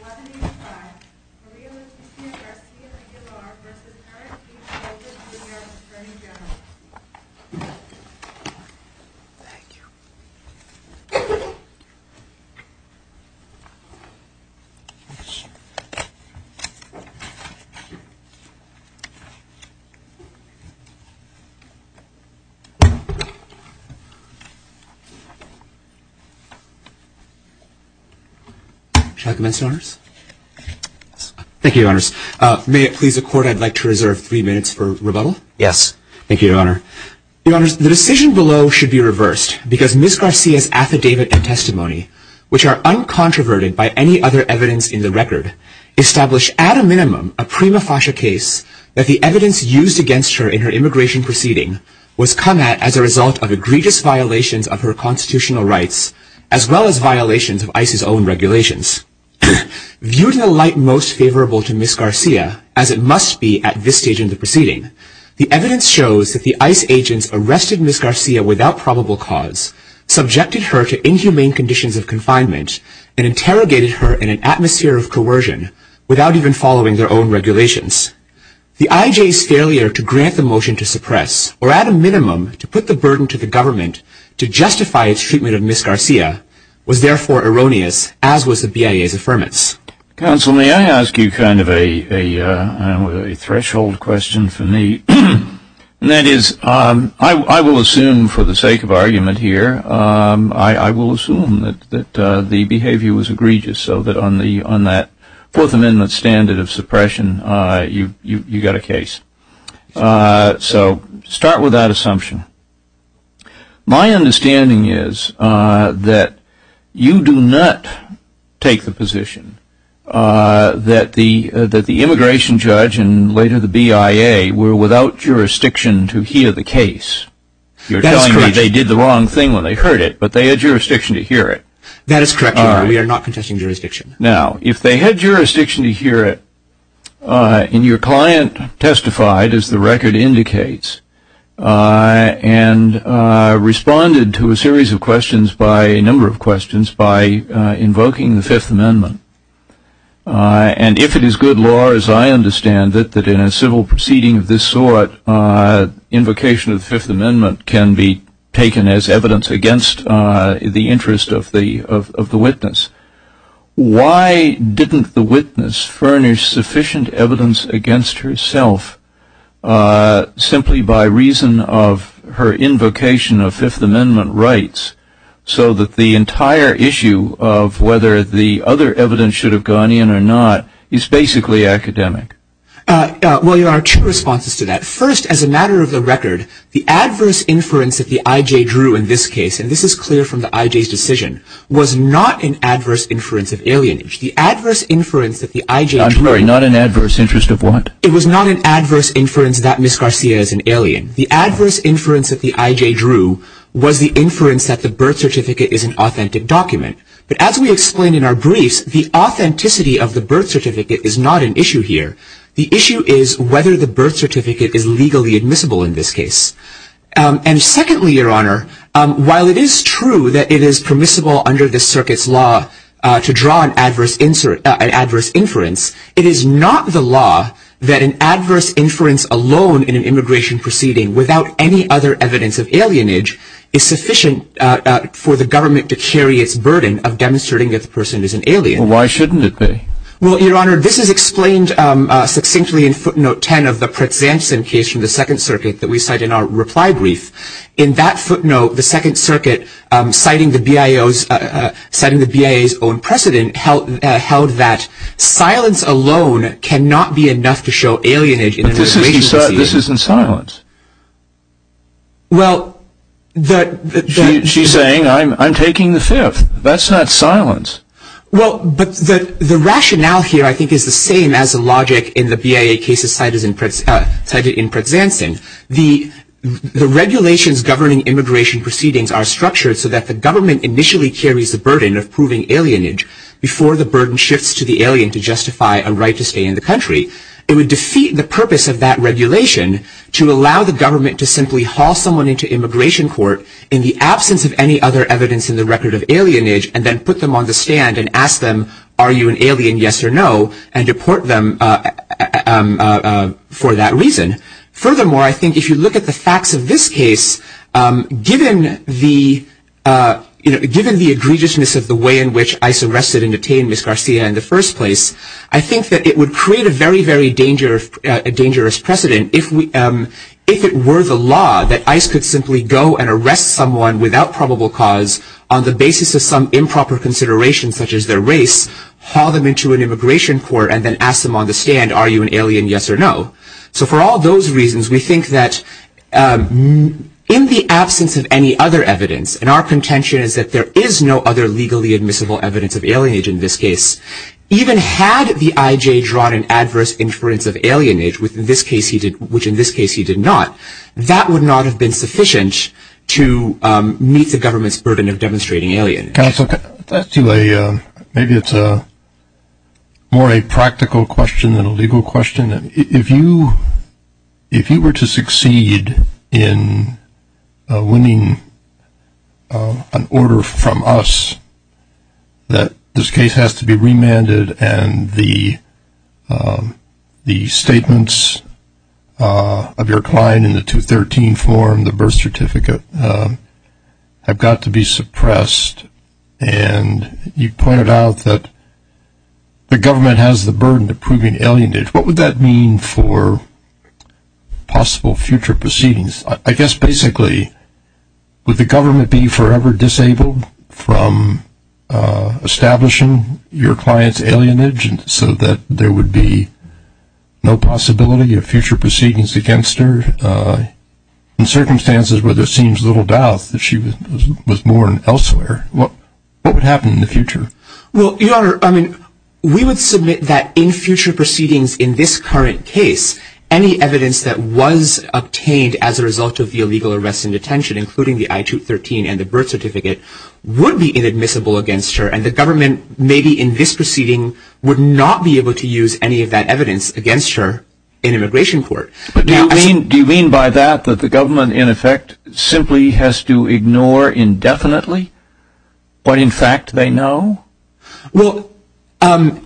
1185, Maria Lucia Garcia-Aguilar v. Eric H. Holder, Jr., Attorney General Thank you May it please the Court, I'd like to reserve three minutes for rebuttal? Yes Thank you, Your Honor. Your Honors, the decision below should be reversed, because Ms. Garcia's affidavit and testimony, which are uncontroverted by any other evidence in the record, establish at a minimum a prima facie case that the evidence used against her in her immigration proceeding was come at as a result of egregious violations of her constitutional rights, as well as violations of ICE's own regulations. Viewed in the light most favorable to Ms. Garcia, as it must be at this stage in the proceeding, the evidence shows that the ICE agents arrested Ms. Garcia without probable cause, subjected her to inhumane conditions of confinement, and interrogated her in an atmosphere of coercion, without even following their own regulations. The IJ's failure to grant the motion to suppress, or at a minimum to put the burden to the government to justify its treatment of Ms. Garcia, was therefore erroneous, as was the BIA's affirmance. Counsel, may I ask you kind of a threshold question for me? And that is, I will assume for the sake of argument here, I will assume that the behavior was egregious, so that on that Fourth Amendment standard of suppression, you got a case. So start with that assumption. My understanding is that you do not take the position that the immigration judge, and later the BIA, were without jurisdiction to hear the case. You're telling me they did the wrong thing when they heard it, but they had jurisdiction to hear it. That is correct, Your Honor. We are not contesting jurisdiction. Now, if they had jurisdiction to hear it, and your client testified, as the record indicates, and responded to a series of questions by a number of questions by invoking the Fifth Amendment, and if it is good law, as I understand it, that in a civil proceeding of this sort, invocation of the Fifth Amendment can be taken as evidence against the interest of the witness, why didn't the witness furnish sufficient evidence against herself simply by reason of her invocation of Fifth Amendment rights, so that the entire issue of whether the other evidence should have gone in or not is basically academic? Well, Your Honor, two responses to that. First, as a matter of the record, the adverse inference that the I.J. drew in this case, and this is clear from the I.J.'s decision, was not an adverse inference of alienage. The adverse inference that the I.J. drew in this case… I'm sorry, not an adverse inference of what? It was not an adverse inference that Ms. Garcia is an alien. The adverse inference that the I.J. drew was the inference that the birth certificate is an authentic document. But as we explained in our briefs, the authenticity of the birth certificate is not an issue here. The issue is whether the birth certificate is legally admissible in this case. And secondly, Your Honor, while it is true that it is permissible under this circuit's law to draw an adverse inference, it is not the law that an adverse inference alone in an immigration proceeding, without any other evidence of alienage, is sufficient for the government to carry its burden of demonstrating that the person is an alien. Well, why shouldn't it be? Well, Your Honor, this is explained succinctly in footnote 10 of the Pritz-Zanson case from the Second Circuit that we cite in our reply brief. In that footnote, the Second Circuit, citing the BIA's own precedent, held that silence alone cannot be enough to show alienage in an immigration proceeding. But this isn't silence. Well, the… She's saying, I'm taking the fifth. That's not silence. Well, but the rationale here, I think, is the same as the logic in the BIA cases cited in Pritz-Zanson. The regulations governing immigration proceedings are structured so that the government initially carries the burden of proving alienage before the burden shifts to the alien to justify a right to stay in the country. It would defeat the purpose of that regulation to allow the government to simply haul someone into immigration court in the absence of any other evidence in the record of alienage, and then put them on the stand and ask them, are you an alien, yes or no, and deport them for that reason. Furthermore, I think if you look at the facts of this case, given the egregiousness of the way in which ICE arrested and detained Ms. Garcia in the first place, I think that it would create a very, very dangerous precedent if it were the law that ICE could simply go and arrest someone without probable cause on the basis of some improper consideration such as their race, haul them into an immigration court, and then ask them on the stand, are you an alien, yes or no. So for all those reasons, we think that in the absence of any other evidence, and our contention is that there is no other legally admissible evidence of alienage in this case, even had the IJ drawn an adverse inference of alienage, which in this case he did not, that would not have been sufficient to meet the government's burden of demonstrating alienage. Counsel, can I ask you a, maybe it's more a practical question than a legal question. If you were to succeed in winning an order from us that this case has to be remanded and the statements of your client in the 213 form, the birth certificate, have got to be suppressed, and you pointed out that the government has the burden of proving alienage, what would that mean for possible future proceedings? I guess basically would the government be forever disabled from establishing your client's alienage so that there would be no possibility of future proceedings against her in circumstances where there seems little doubt that she was born elsewhere? What would happen in the future? Well, Your Honor, we would submit that in future proceedings in this current case, any evidence that was obtained as a result of the illegal arrest and detention, including the I213 and the birth certificate, would be inadmissible against her, and the government, maybe in this proceeding, would not be able to use any of that evidence against her in immigration court. Do you mean by that that the government, in effect, simply has to ignore indefinitely what in fact they know? Well, in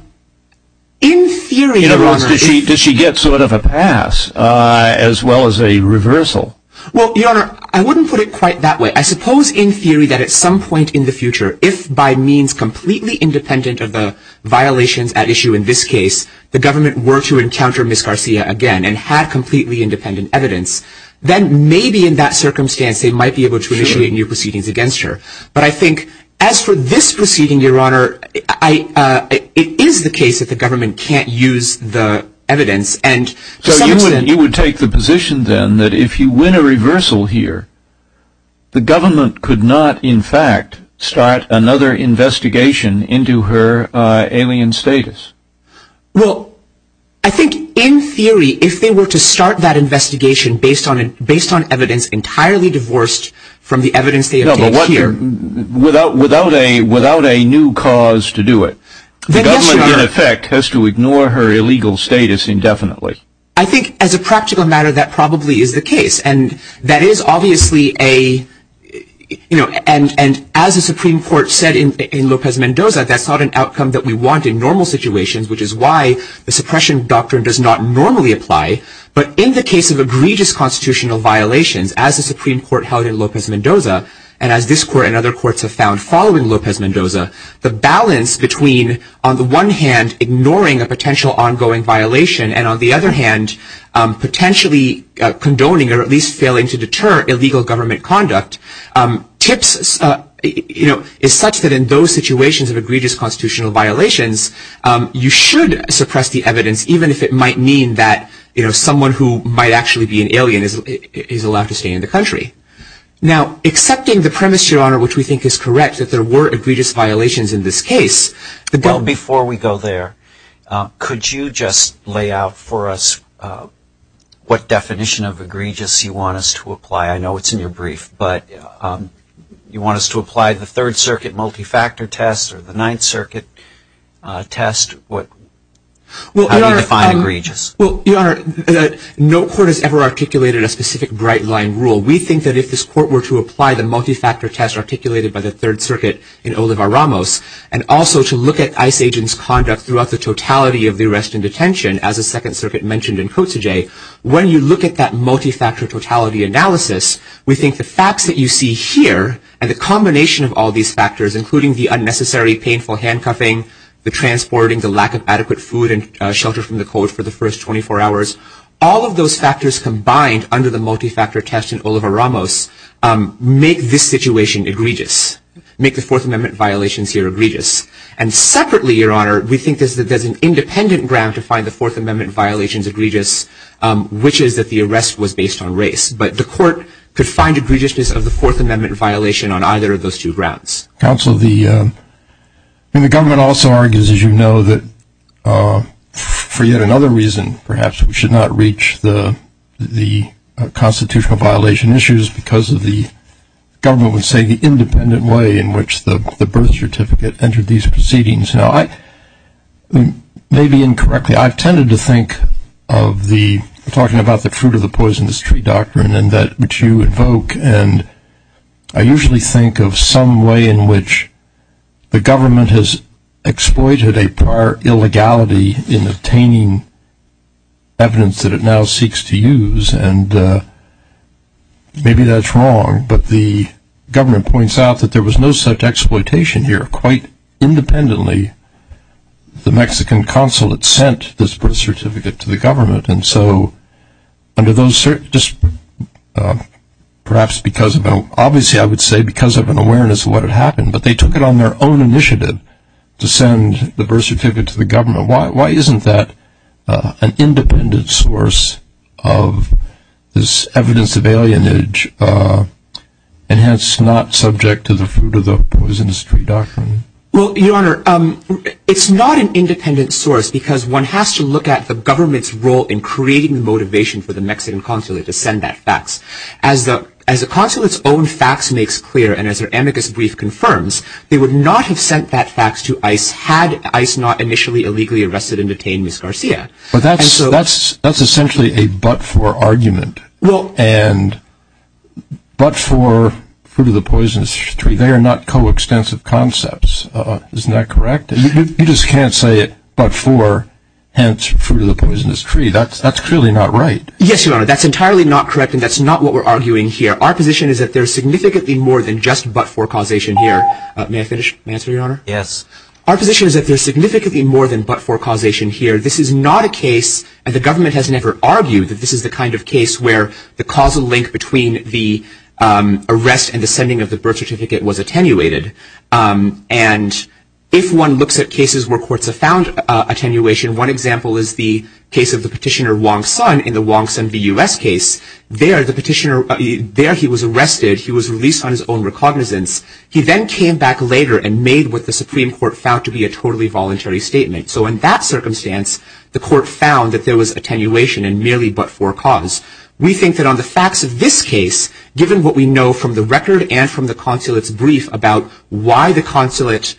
theory... In other words, does she get sort of a pass as well as a reversal? Well, Your Honor, I wouldn't put it quite that way. I suppose in theory that at some point in the future, if by means completely independent of the violations at issue in this case, the government were to encounter Ms. Garcia again and had completely independent evidence, then maybe in that circumstance they might be able to initiate new proceedings against her. But I think as for this proceeding, Your Honor, it is the case that the government can't use the evidence. So you would take the position then that if you win a reversal here, the government could not, in fact, start another investigation into her alien status? Well, I think in theory, if they were to start that investigation based on evidence entirely divorced from the evidence they obtained here... No, but without a new cause to do it, the government, in effect, has to ignore her illegal status indefinitely. I think, as a practical matter, that probably is the case. And that is obviously a... And as the Supreme Court said in Lopez-Mendoza, that's not an outcome that we want in normal situations, which is why the suppression doctrine does not normally apply. But in the case of egregious constitutional violations, as the Supreme Court held in Lopez-Mendoza, and as this Court and other courts have found following Lopez-Mendoza, the balance between, on the one hand, ignoring a potential ongoing violation, and on the other hand, potentially condoning or at least failing to deter illegal government conduct, is such that in those situations of egregious constitutional violations, you should suppress the evidence, even if it might mean that someone who might actually be an alien is allowed to stay in the country. Now, accepting the premise, Your Honor, which we think is correct, that there were egregious violations in this case... Well, before we go there, could you just lay out for us what definition of egregious you want us to apply? I know it's in your brief, but you want us to apply the Third Circuit multifactor test or the Ninth Circuit test? How do you define egregious? Well, Your Honor, no court has ever articulated a specific bright-line rule. We think that if this Court were to apply the multifactor test articulated by the Third Circuit in Oliva-Ramos, and also to look at ICE agents' conduct throughout the totality of the arrest and detention, as the Second Circuit mentioned in Kotzege, when you look at that multifactor totality analysis, we think the facts that you see here and the combination of all these factors, including the unnecessary painful handcuffing, the transporting, the lack of adequate food and shelter from the cold for the first 24 hours, all of those factors combined under the multifactor test in Oliva-Ramos make this situation egregious, make the Fourth Amendment violations here egregious. And separately, Your Honor, we think that there's an independent ground to find the Fourth Amendment violations egregious, which is that the arrest was based on race. But the Court could find egregiousness of the Fourth Amendment violation on either of those two grounds. Counsel, the government also argues, as you know, that for yet another reason, perhaps, we should not reach the constitutional violation issues because of the government would say the independent way in which the birth certificate entered these proceedings. Now, maybe incorrectly, I've tended to think of the talking about the fruit of the poisonous tree doctrine, and that which you invoke, and I usually think of some way in which the government has exploited a prior illegality in obtaining evidence that it now seeks to use, and maybe that's wrong. But the government points out that there was no such exploitation here. Quite independently, the Mexican consulate sent this birth certificate to the government, and so under those – perhaps because of – obviously, I would say because of an awareness of what had happened, but they took it on their own initiative to send the birth certificate to the government. Why isn't that an independent source of this evidence of alienage, and hence not subject to the fruit of the poisonous tree doctrine? Well, Your Honor, it's not an independent source because one has to look at the government's role in creating the motivation for the Mexican consulate to send that fax. As the consulate's own fax makes clear, and as their amicus brief confirms, they would not have sent that fax to ICE had ICE not initially illegally arrested and detained Ms. Garcia. But that's essentially a but-for argument, and but-for fruit of the poisonous tree, they are not coextensive concepts, isn't that correct? You just can't say it but-for, hence fruit of the poisonous tree. That's clearly not right. Yes, Your Honor, that's entirely not correct, and that's not what we're arguing here. Our position is that there's significantly more than just but-for causation here. May I finish? May I answer, Your Honor? Yes. Our position is that there's significantly more than but-for causation here. This is not a case – and the government has never argued that this is the kind of case where the causal link between the arrest and the sending of the birth certificate was attenuated. And if one looks at cases where courts have found attenuation, one example is the case of the petitioner Wong Sun in the Wong Sun v. U.S. case. There, the petitioner – there he was arrested. He was released on his own recognizance. He then came back later and made what the Supreme Court found to be a totally voluntary statement. So in that circumstance, the court found that there was attenuation in merely but-for cause. We think that on the facts of this case, given what we know from the record and from the consulate's brief about why the consulate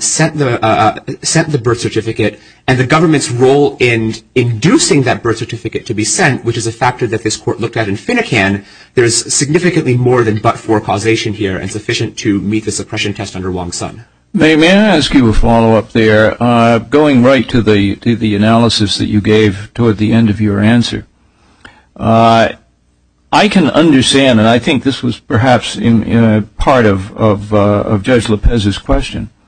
sent the birth certificate and the government's role in inducing that birth certificate to be sent, which is a factor that this court looked at in Finnegan, there is significantly more than but-for causation here and sufficient to meet the suppression test under Wong Sun. May I ask you a follow-up there? Going right to the analysis that you gave toward the end of your answer, I can understand – and I think this was perhaps part of Judge Lopez's question –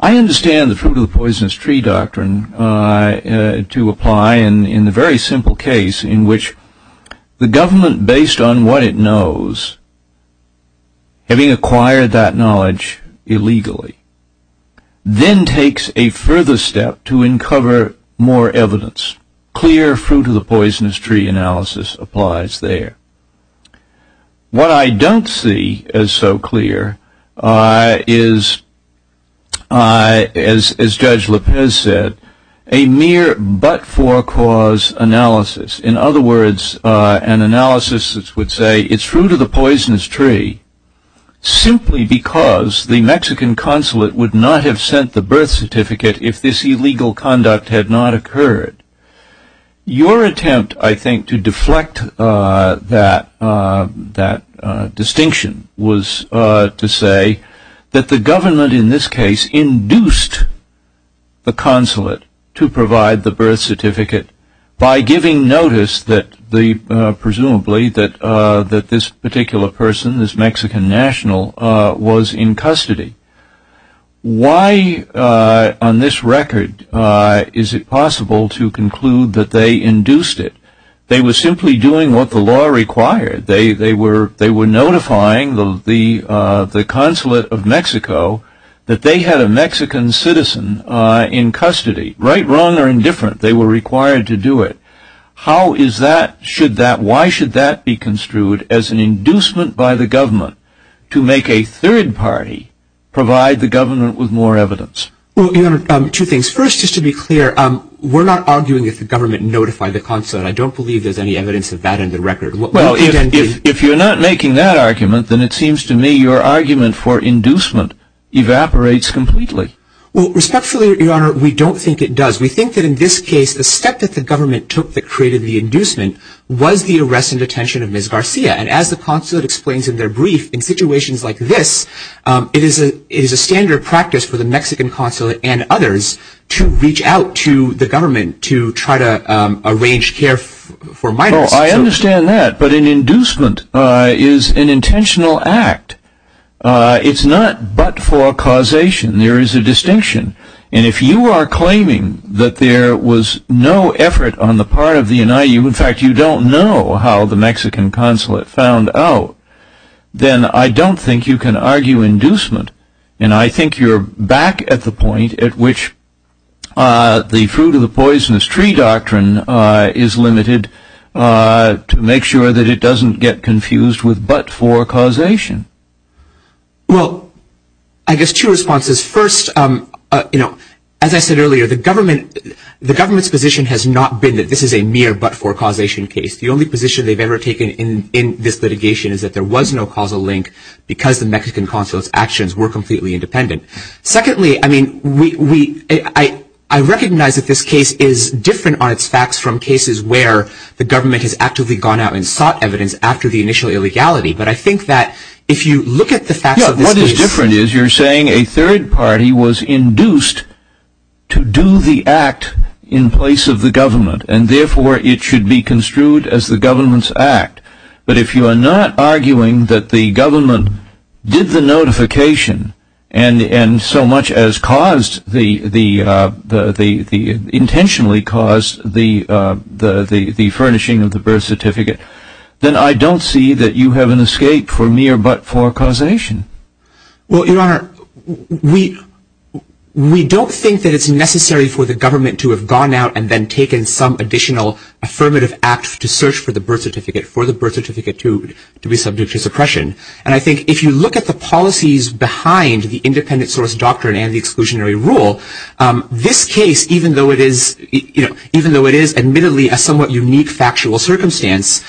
I understand the fruit-of-the-poisonous-tree doctrine to apply in the very simple case in which the government, based on what it knows, having acquired that knowledge illegally, then takes a further step to uncover more evidence. Clear fruit-of-the-poisonous-tree analysis applies there. What I don't see as so clear is, as Judge Lopez said, a mere but-for-cause analysis. In other words, an analysis that would say it's fruit-of-the-poisonous-tree simply because the Mexican consulate would not have sent the birth certificate if this illegal conduct had not occurred. Your attempt, I think, to deflect that distinction was to say that the government in this case induced the consulate to provide the birth certificate by giving notice, presumably, that this particular person, this Mexican national, was in custody. Why, on this record, is it possible to conclude that they induced it? They were simply doing what the law required. They were notifying the consulate of Mexico that they had a Mexican citizen in custody. Right, wrong, or indifferent, they were required to do it. How is that – why should that be construed as an inducement by the government to make a third party provide the government with more evidence? Well, Your Honor, two things. First, just to be clear, we're not arguing if the government notified the consulate. I don't believe there's any evidence of that in the record. Well, if you're not making that argument, then it seems to me your argument for inducement evaporates completely. Well, respectfully, Your Honor, we don't think it does. We think that in this case, the step that the government took that created the inducement was the arrest and detention of Ms. Garcia. And as the consulate explains in their brief, in situations like this, it is a standard practice for the Mexican consulate and others to reach out to the government to try to arrange care for minors. Oh, I understand that. But an inducement is an intentional act. It's not but for causation. There is a distinction. And if you are claiming that there was no effort on the part of the NIU – in fact, you don't know how the Mexican consulate found out – then I don't think you can argue inducement. And I think you're back at the point at which the fruit-of-the-poisonous-tree doctrine is limited to make sure that it doesn't get confused with but for causation. Well, I guess two responses. First, as I said earlier, the government's position has not been that this is a mere but for causation case. The only position they've ever taken in this litigation is that there was no causal link because the Mexican consulate's actions were completely independent. Secondly, I mean, I recognize that this case is different on its facts from cases where the government has actively gone out and sought evidence after the initial illegality. But I think that if you look at the facts of this case – the third party was induced to do the act in place of the government, and therefore it should be construed as the government's act. But if you are not arguing that the government did the notification and so much as intentionally caused the furnishing of the birth certificate, then I don't see that you have an escape for mere but for causation. Well, Your Honor, we don't think that it's necessary for the government to have gone out and then taken some additional affirmative act to search for the birth certificate for the birth certificate to be subject to suppression. And I think if you look at the policies behind the independent source doctrine and the exclusionary rule, this case, even though it is admittedly a somewhat unique factual circumstance,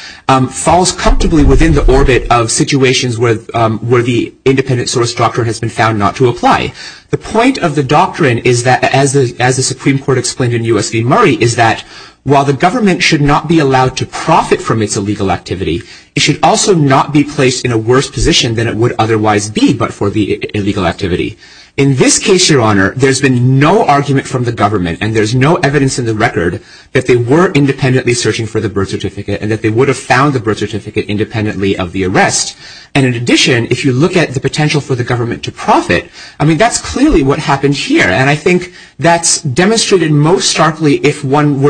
falls comfortably within the orbit of situations where the independent source doctrine has been found not to apply. The point of the doctrine is that, as the Supreme Court explained in U.S. v. Murray, is that while the government should not be allowed to profit from its illegal activity, it should also not be placed in a worse position than it would otherwise be but for the illegal activity. In this case, Your Honor, there's been no argument from the government, and there's no evidence in the record that they were independently searching for the birth certificate and that they would have found the birth certificate independently of the arrest. And in addition, if you look at the potential for the government to profit, I mean, that's clearly what happened here. And I think that's demonstrated most starkly if one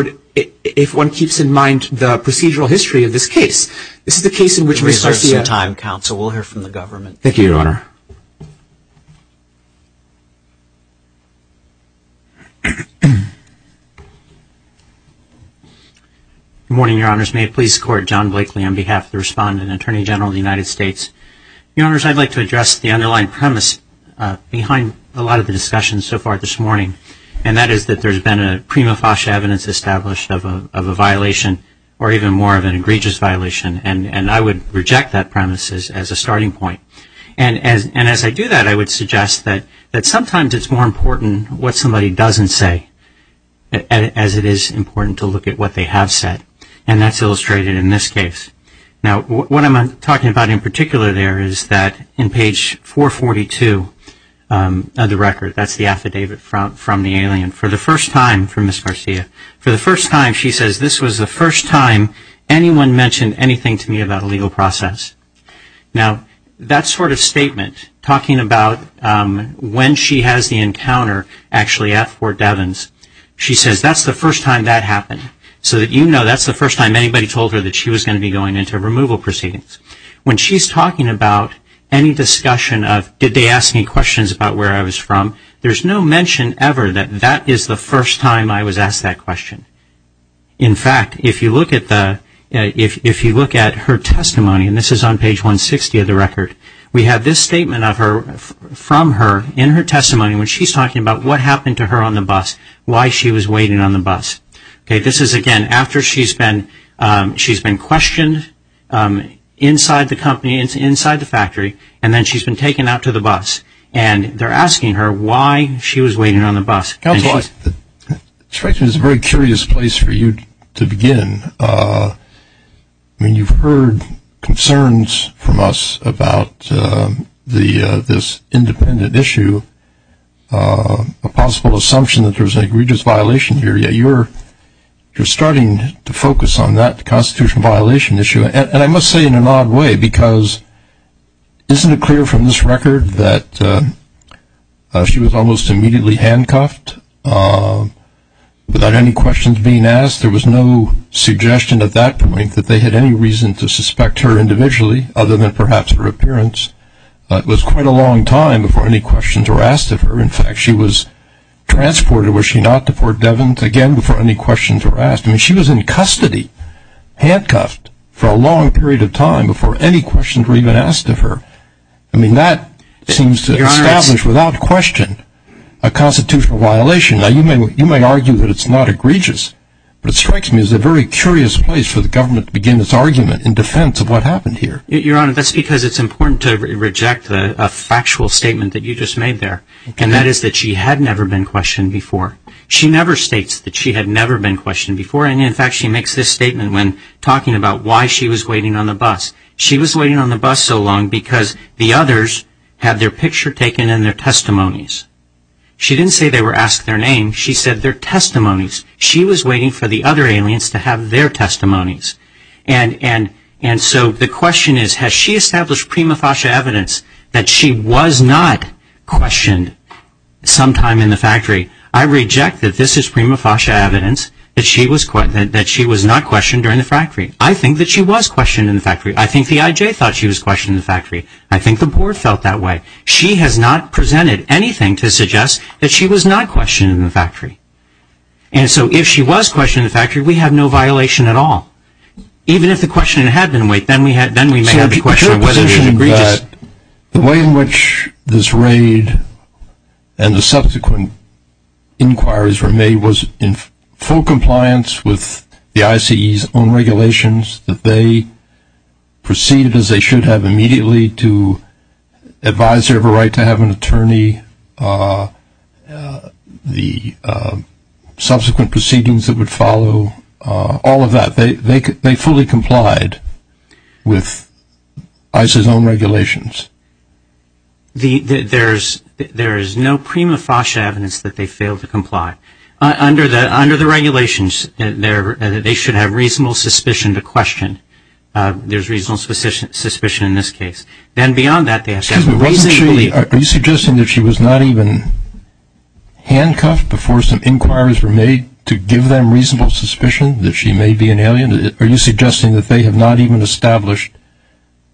keeps in mind the procedural history of this case. This is the case in which we see a – We're going to reserve some time, Counsel. We'll hear from the government. Thank you, Your Honor. Good morning, Your Honors. May it please the Court. John Blakely on behalf of the Respondent and Attorney General of the United States. Your Honors, I'd like to address the underlying premise behind a lot of the discussions so far this morning, and that is that there's been a prima facie evidence established of a violation or even more of an egregious violation, and I would reject that premise as a starting point. And as I do that, I would suggest that sometimes it's more important what somebody doesn't say as it is important to look at what they have said, and that's illustrated in this case. Now, what I'm talking about in particular there is that in page 442 of the record, that's the affidavit from the alien, for the first time, from Ms. Garcia, for the first time she says, this was the first time anyone mentioned anything to me about a legal process. Now, that sort of statement, talking about when she has the encounter actually at Fort Devens, she says that's the first time that happened, so that you know that's the first time anybody told her that she was going to be going into removal proceedings. When she's talking about any discussion of did they ask me questions about where I was from, there's no mention ever that that is the first time I was asked that question. In fact, if you look at her testimony, and this is on page 160 of the record, we have this statement from her in her testimony when she's talking about what happened to her on the bus, why she was waiting on the bus. This is, again, after she's been questioned inside the company, inside the factory, and then she's been taken out to the bus, and they're asking her why she was waiting on the bus. Counsel, I suspect this is a very curious place for you to begin. I mean, you've heard concerns from us about this independent issue, a possible assumption that there's an egregious violation here, yet you're starting to focus on that constitutional violation issue, and I must say in an odd way because isn't it clear from this record that she was almost immediately handcuffed without any questions being asked? There was no suggestion at that point that they had any reason to suspect her individually, other than perhaps her appearance. It was quite a long time before any questions were asked of her. In fact, she was transported, was she not, to Fort Devon again before any questions were asked. I mean, she was in custody, handcuffed for a long period of time before any questions were even asked of her. I mean, that seems to establish without question a constitutional violation. Now, you may argue that it's not egregious, but it strikes me as a very curious place for the government to begin its argument in defense of what happened here. Your Honor, that's because it's important to reject a factual statement that you just made there, and that is that she had never been questioned before. She never states that she had never been questioned before, and in fact she makes this statement when talking about why she was waiting on the bus. She was waiting on the bus so long because the others had their picture taken and their testimonies. She didn't say they were asked their name. She said their testimonies. She was waiting for the other aliens to have their testimonies. And so the question is, has she established prima facie evidence that she was not questioned sometime in the factory? I reject that this is prima facie evidence that she was not questioned during the factory. I think that she was questioned in the factory. I think the I.J. thought she was questioned in the factory. I think the board felt that way. She has not presented anything to suggest that she was not questioned in the factory. And so if she was questioned in the factory, we have no violation at all. Even if the question had been, wait, then we may have the question of whether it was egregious. The way in which this raid and the subsequent inquiries were made was in full compliance with the ICE's own regulations, that they proceeded as they should have immediately to advise their right to have an attorney, the subsequent proceedings that would follow, all of that. They fully complied with ICE's own regulations. There is no prima facie evidence that they failed to comply. Under the regulations, they should have reasonable suspicion to question. There's reasonable suspicion in this case. Then beyond that, they have to have reason to believe. Are you suggesting that she was not even handcuffed before some inquiries were made to give them reasonable suspicion that she may be an alien? Are you suggesting that they have not even established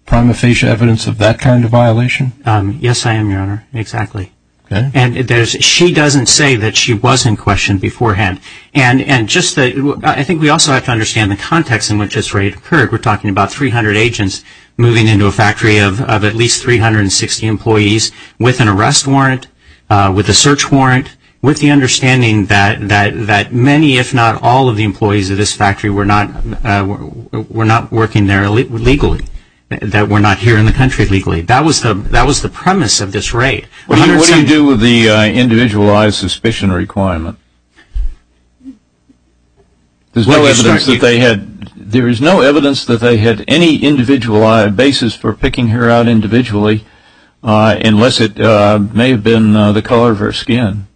prima facie evidence of that kind of violation? Yes, I am, Your Honor. Exactly. Okay. She doesn't say that she was in question beforehand. I think we also have to understand the context in which this raid occurred. We're talking about 300 agents moving into a factory of at least 360 employees with an arrest warrant, with a search warrant, with the understanding that many, if not all of the employees of this factory were not working there legally, that were not here in the country legally. That was the premise of this raid. What do you do with the individualized suspicion requirement? There is no evidence that they had any individualized basis for picking her out individually, unless it may have been the color of her skin.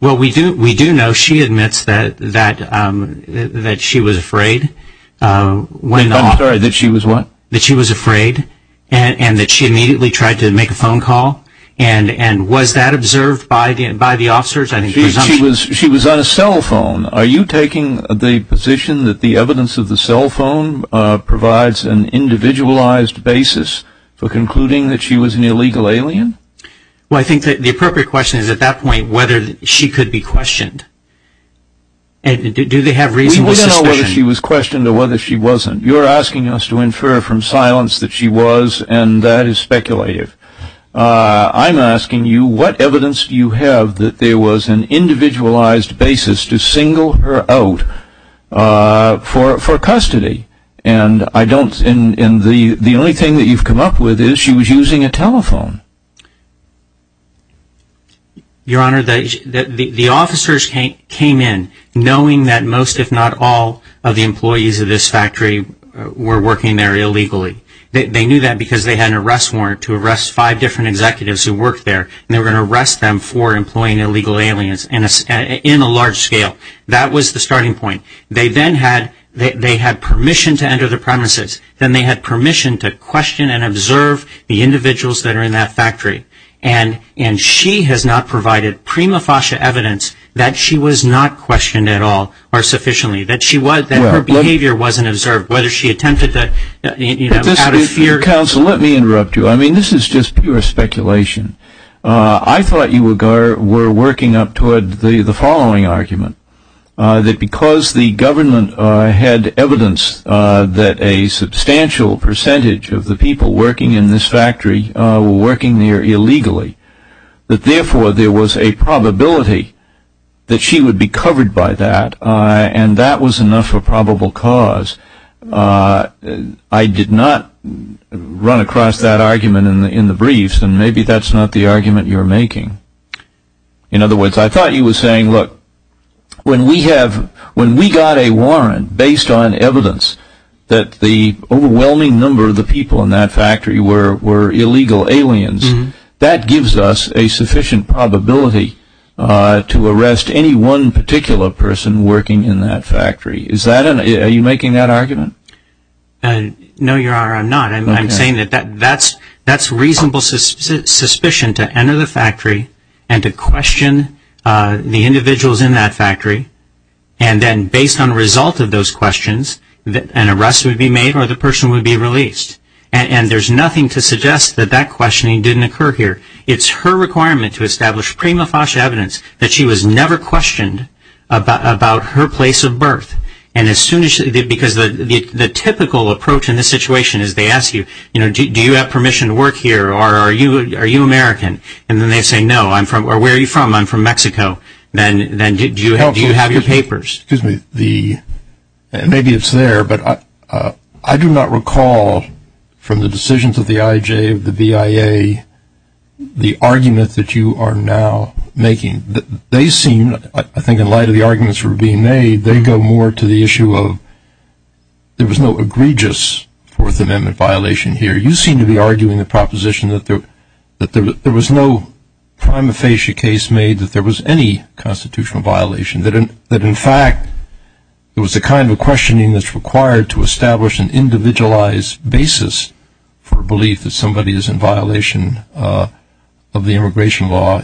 Well, we do know she admits that she was afraid. I'm sorry, that she was what? That she was afraid and that she immediately tried to make a phone call. And was that observed by the officers? She was on a cell phone. Are you taking the position that the evidence of the cell phone provides an individualized basis for concluding that she was an illegal alien? Well, I think the appropriate question is at that point whether she could be questioned. Do they have reasonable suspicion? We don't know whether she was questioned or whether she wasn't. You're asking us to infer from silence that she was, and that is speculative. I'm asking you what evidence do you have that there was an individualized basis to single her out for custody? And the only thing that you've come up with is she was using a telephone. Your Honor, the officers came in knowing that most, if not all, of the employees of this factory were working there illegally. They knew that because they had an arrest warrant to arrest five different executives who worked there, and they were going to arrest them for employing illegal aliens in a large scale. That was the starting point. They then had permission to enter the premises. Then they had permission to question and observe the individuals that are in that factory. And she has not provided prima facie evidence that she was not questioned at all or sufficiently, that her behavior wasn't observed, whether she attempted to, you know, out of fear. Counsel, let me interrupt you. I mean, this is just pure speculation. I thought you were working up toward the following argument, that because the government had evidence that a substantial percentage of the people working in this factory were working there illegally, that therefore there was a probability that she would be covered by that, and that was enough for probable cause. I did not run across that argument in the briefs, and maybe that's not the argument you're making. In other words, I thought you were saying, look, when we got a warrant based on evidence that the overwhelming number of the people in that factory were illegal aliens, that gives us a sufficient probability to arrest any one particular person working in that factory. Are you making that argument? No, Your Honor, I'm not. I'm saying that that's reasonable suspicion to enter the factory and to question the individuals in that factory, and then based on the result of those questions, an arrest would be made or the person would be released. And there's nothing to suggest that that questioning didn't occur here. It's her requirement to establish prima facie evidence that she was never questioned about her place of birth. And as soon as she did, because the typical approach in this situation is they ask you, you know, do you have permission to work here or are you American? And then they say, no, I'm from, or where are you from? I'm from Mexico. Then do you have your papers? Maybe it's there, but I do not recall from the decisions of the IJ, of the BIA, the argument that you are now making. They seem, I think in light of the arguments that are being made, they go more to the issue of there was no egregious Fourth Amendment violation here. You seem to be arguing the proposition that there was no prima facie case made, that there was any constitutional violation, that, in fact, it was the kind of questioning that's required to establish an individualized basis for belief that somebody is in violation of the immigration law.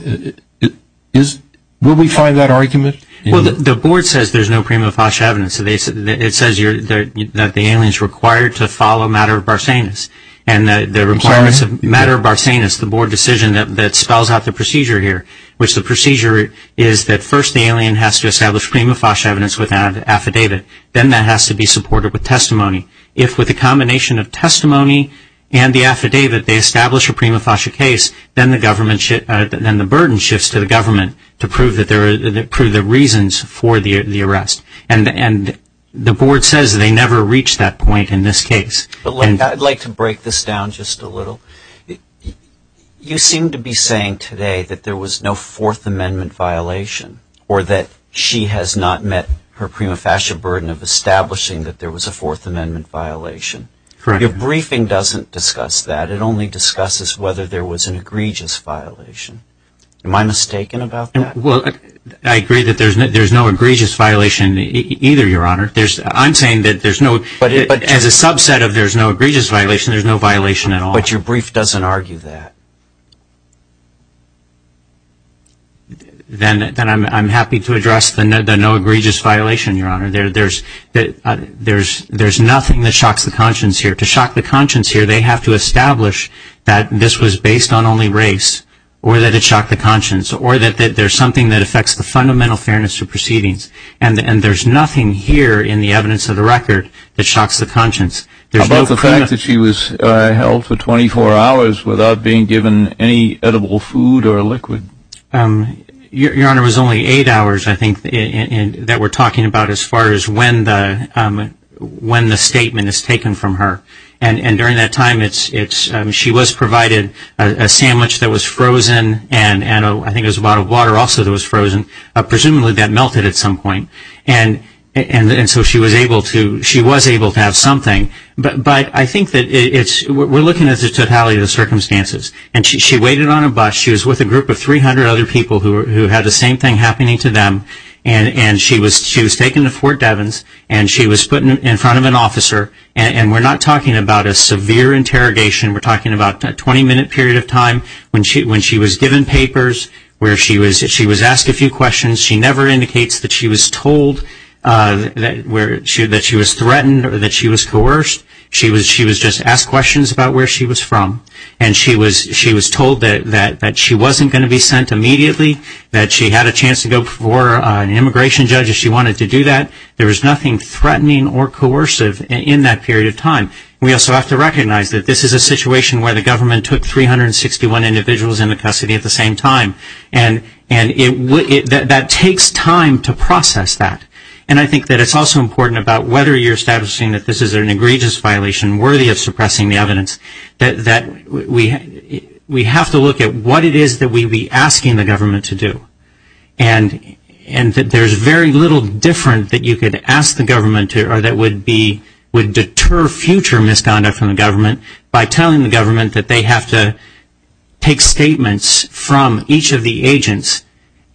Will we find that argument? Well, the board says there's no prima facie evidence. It says that the alien is required to follow matter of Barsanis. And the requirements of matter of Barsanis, the board decision that spells out the procedure here, which the procedure is that first the alien has to establish prima facie evidence with an affidavit. Then that has to be supported with testimony. If with a combination of testimony and the affidavit they establish a prima facie case, then the burden shifts to the government to prove the reasons for the arrest. And the board says they never reach that point in this case. I'd like to break this down just a little. You seem to be saying today that there was no Fourth Amendment violation or that she has not met her prima facie burden of establishing that there was a Fourth Amendment violation. Correct. Your briefing doesn't discuss that. It only discusses whether there was an egregious violation. Am I mistaken about that? Well, I agree that there's no egregious violation either, Your Honor. I'm saying that as a subset of there's no egregious violation, there's no violation at all. But your brief doesn't argue that. Then I'm happy to address the no egregious violation, Your Honor. There's nothing that shocks the conscience here. To shock the conscience here, they have to establish that this was based on only race or that it shocked the conscience or that there's something that affects the fundamental fairness of proceedings. And there's nothing here in the evidence of the record that shocks the conscience. How about the fact that she was held for 24 hours without being given any edible food or liquid? Your Honor, it was only eight hours, I think, that we're talking about as far as when the statement is taken from her. And during that time, she was provided a sandwich that was frozen and I think it was a bottle of water also that was frozen. Presumably that melted at some point. And so she was able to have something. But I think that we're looking at the totality of the circumstances. And she waited on a bus. She was with a group of 300 other people who had the same thing happening to them. And she was taken to Fort Devens and she was put in front of an officer. And we're not talking about a severe interrogation. We're talking about a 20-minute period of time when she was given papers, where she was asked a few questions. She never indicates that she was told that she was threatened or that she was coerced. She was just asked questions about where she was from. And she was told that she wasn't going to be sent immediately, that she had a chance to go before an immigration judge if she wanted to do that. There was nothing threatening or coercive in that period of time. We also have to recognize that this is a situation where the government took 361 individuals into custody at the same time. And that takes time to process that. And I think that it's also important about whether you're establishing that this is an egregious violation worthy of suppressing the evidence, that we have to look at what it is that we'd be asking the government to do. And that there's very little different that you could ask the government to or that would deter future misconduct from the government by telling the government that they have to take statements from each of the agents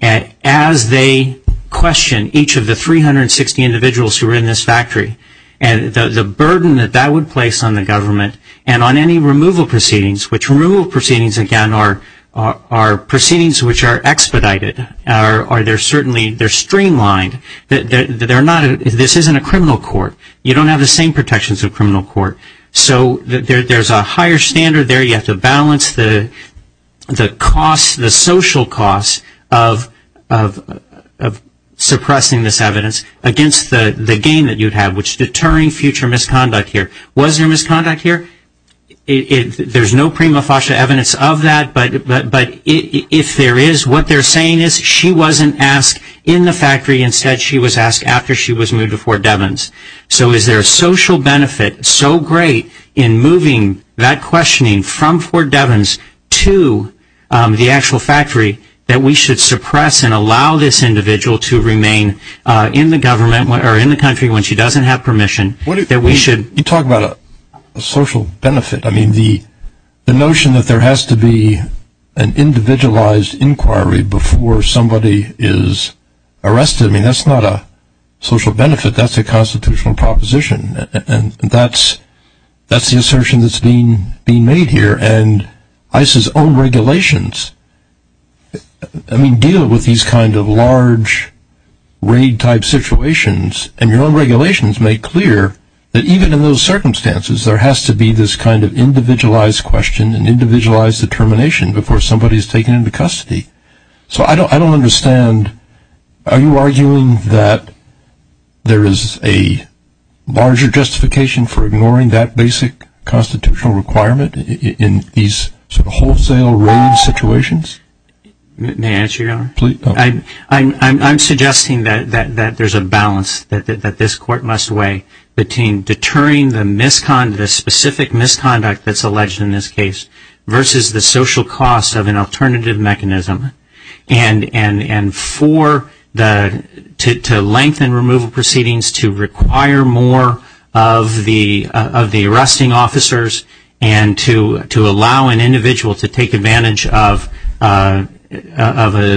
as they question each of the 360 individuals who are in this factory. And the burden that that would place on the government and on any removal proceedings, which removal proceedings, again, are proceedings which are expedited. They're streamlined. This isn't a criminal court. You don't have the same protections of a criminal court. So there's a higher standard there. You have to balance the costs, the social costs of suppressing this evidence against the gain that you'd have, which is deterring future misconduct here. Was there misconduct here? There's no prima facie evidence of that. But if there is, what they're saying is she wasn't asked in the factory. Instead, she was asked after she was moved to Fort Devens. So is there a social benefit so great in moving that questioning from Fort Devens to the actual factory that we should suppress and allow this individual to remain in the government or in the country when she doesn't have permission, that we should? You talk about a social benefit. I mean, the notion that there has to be an individualized inquiry before somebody is arrested, I mean, that's not a social benefit. That's a constitutional proposition, and that's the assertion that's being made here. And ICE's own regulations deal with these kind of large raid-type situations, and your own regulations make clear that even in those circumstances, there has to be this kind of individualized question and individualized determination before somebody is taken into custody. So I don't understand. Are you arguing that there is a larger justification for ignoring that basic constitutional requirement in these sort of wholesale raid situations? May I answer, Your Honor? Please. I'm suggesting that there's a balance that this Court must weigh between deterring the specific misconduct that's alleged in this case versus the social cost of an alternative mechanism, and to lengthen removal proceedings to require more of the arresting officers and to allow an individual to take advantage of a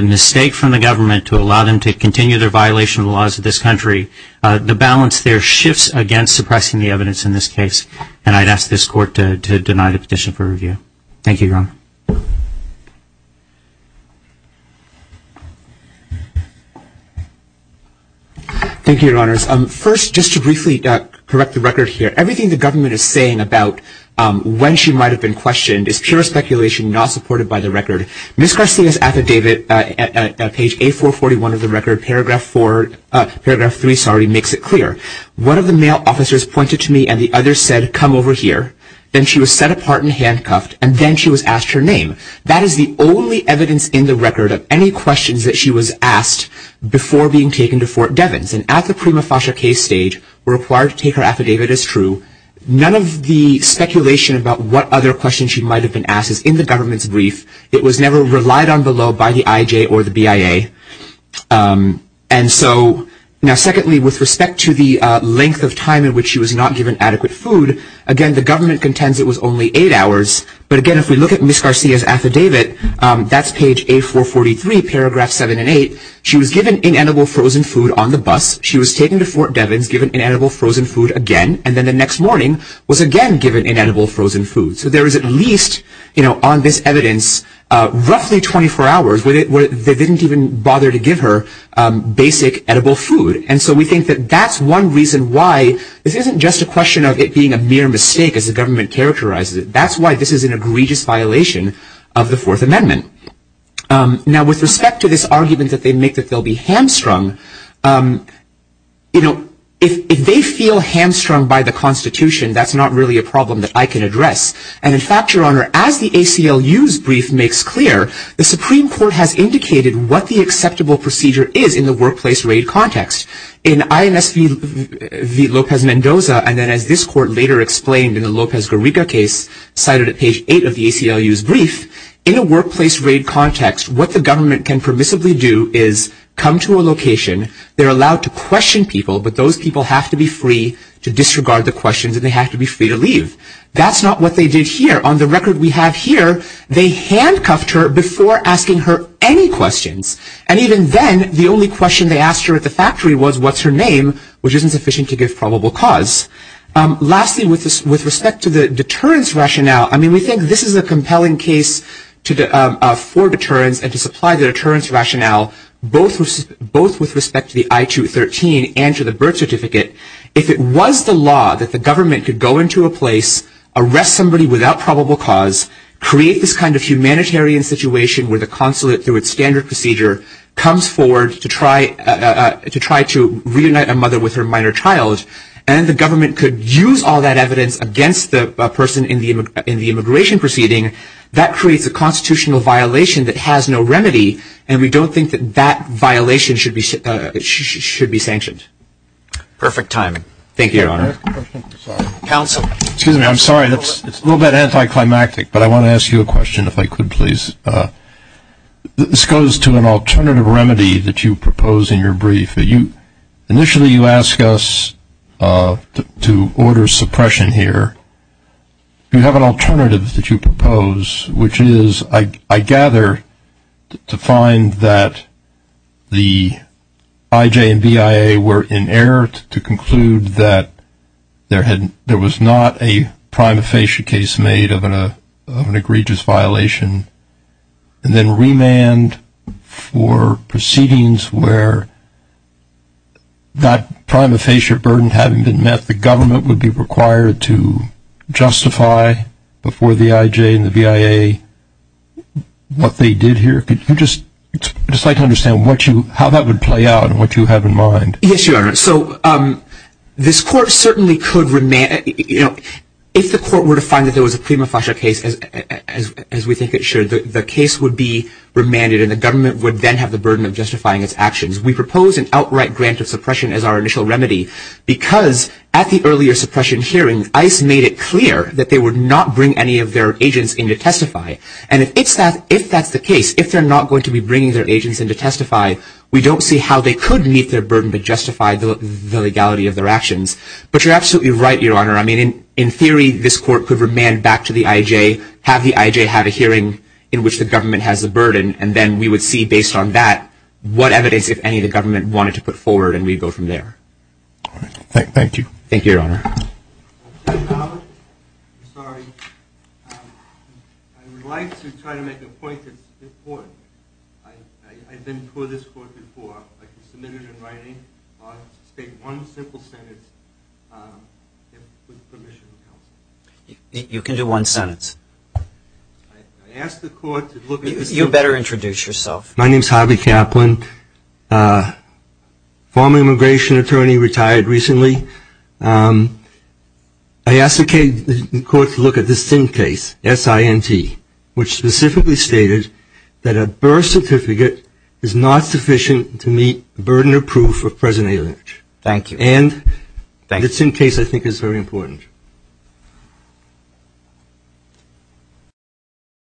mistake from the government to allow them to continue their violation of the laws of this country, to balance their shifts against suppressing the evidence in this case. And I'd ask this Court to deny the petition for review. Thank you, Your Honor. Thank you, Your Honors. First, just to briefly correct the record here, everything the government is saying about when she might have been questioned is pure speculation not supported by the record. Ms. Garcia's affidavit at page 8441 of the record, paragraph 3, makes it clear. One of the male officers pointed to me and the other said, come over here. Then she was set apart and handcuffed, and then she was asked her name. That is the only evidence in the record of any questions that she was asked before being taken to Fort Devens. And at the prima facie case stage, we're required to take her affidavit as true. None of the speculation about what other questions she might have been asked is in the government's brief. It was never relied on below by the IJ or the BIA. Now, secondly, with respect to the length of time in which she was not given adequate food, again, the government contends it was only eight hours. But again, if we look at Ms. Garcia's affidavit, that's page 8443, paragraph 7 and 8. She was given inedible frozen food on the bus. She was taken to Fort Devens, given inedible frozen food again, and then the next morning was again given inedible frozen food. So there is at least on this evidence roughly 24 hours where they didn't even bother to give her basic edible food. And so we think that that's one reason why this isn't just a question of it being a mere mistake, as the government characterizes it. That's why this is an egregious violation of the Fourth Amendment. Now, with respect to this argument that they make that they'll be hamstrung, you know, if they feel hamstrung by the Constitution, that's not really a problem that I can address. And in fact, Your Honor, as the ACLU's brief makes clear, the Supreme Court has indicated what the acceptable procedure is in the workplace raid context. In INS v. Lopez-Mendoza, and then as this court later explained in the Lopez-Garriga case, cited at page 8 of the ACLU's brief, in a workplace raid context, what the government can permissibly do is come to a location. They're allowed to question people, but those people have to be free to disregard the questions, and they have to be free to leave. That's not what they did here. On the record we have here, they handcuffed her before asking her any questions. And even then, the only question they asked her at the factory was, what's her name, which isn't sufficient to give probable cause. Lastly, with respect to the deterrence rationale, I mean, we think this is a compelling case for deterrence and to supply the deterrence rationale, both with respect to the I-213 and to the birth certificate. If it was the law that the government could go into a place, arrest somebody without probable cause, create this kind of humanitarian situation where the consulate, through its standard procedure, comes forward to try to reunite a mother with her minor child, and the government could use all that evidence against the person in the immigration proceeding, that creates a constitutional violation that has no remedy, and we don't think that that violation should be sanctioned. Perfect timing. Thank you, Your Honor. Counsel. Excuse me. I'm sorry. It's a little bit anticlimactic, but I want to ask you a question if I could, please. This goes to an alternative remedy that you propose in your brief. Initially, you ask us to order suppression here. You have an alternative that you propose, which is, I gather, to find that the IJ and BIA were in error to conclude that there was not a prima facie case made of an that prima facie burden having been met, the government would be required to justify before the IJ and the BIA what they did here. Could you just decide to understand how that would play out and what you have in mind? Yes, Your Honor. So this court certainly could remand it. If the court were to find that there was a prima facie case, as we think it should, the case would be remanded, and the government would then have the burden of justifying its actions. We propose an outright grant of suppression as our initial remedy because at the earlier suppression hearing, ICE made it clear that they would not bring any of their agents in to testify. And if that's the case, if they're not going to be bringing their agents in to testify, we don't see how they could meet their burden to justify the legality of their actions. But you're absolutely right, Your Honor. I mean, in theory, this court could remand back to the IJ, have the IJ have a hearing in which the government has the burden, and then we would see based on that what evidence, if any, the government wanted to put forward, and we'd go from there. All right. Thank you. Thank you, Your Honor. I would like to try to make a point that's important. I've been before this court before. I can submit it in writing. I'll just state one simple sentence with permission of counsel. You can do one sentence. I ask the court to look at this. You better introduce yourself. My name is Harvey Kaplan, former immigration attorney, retired recently. I ask the court to look at this SIN case, S-I-N-T, which specifically stated that a birth certificate is not sufficient to meet the burden of proof of present alienation. Thank you. And the SIN case, I think, is very important.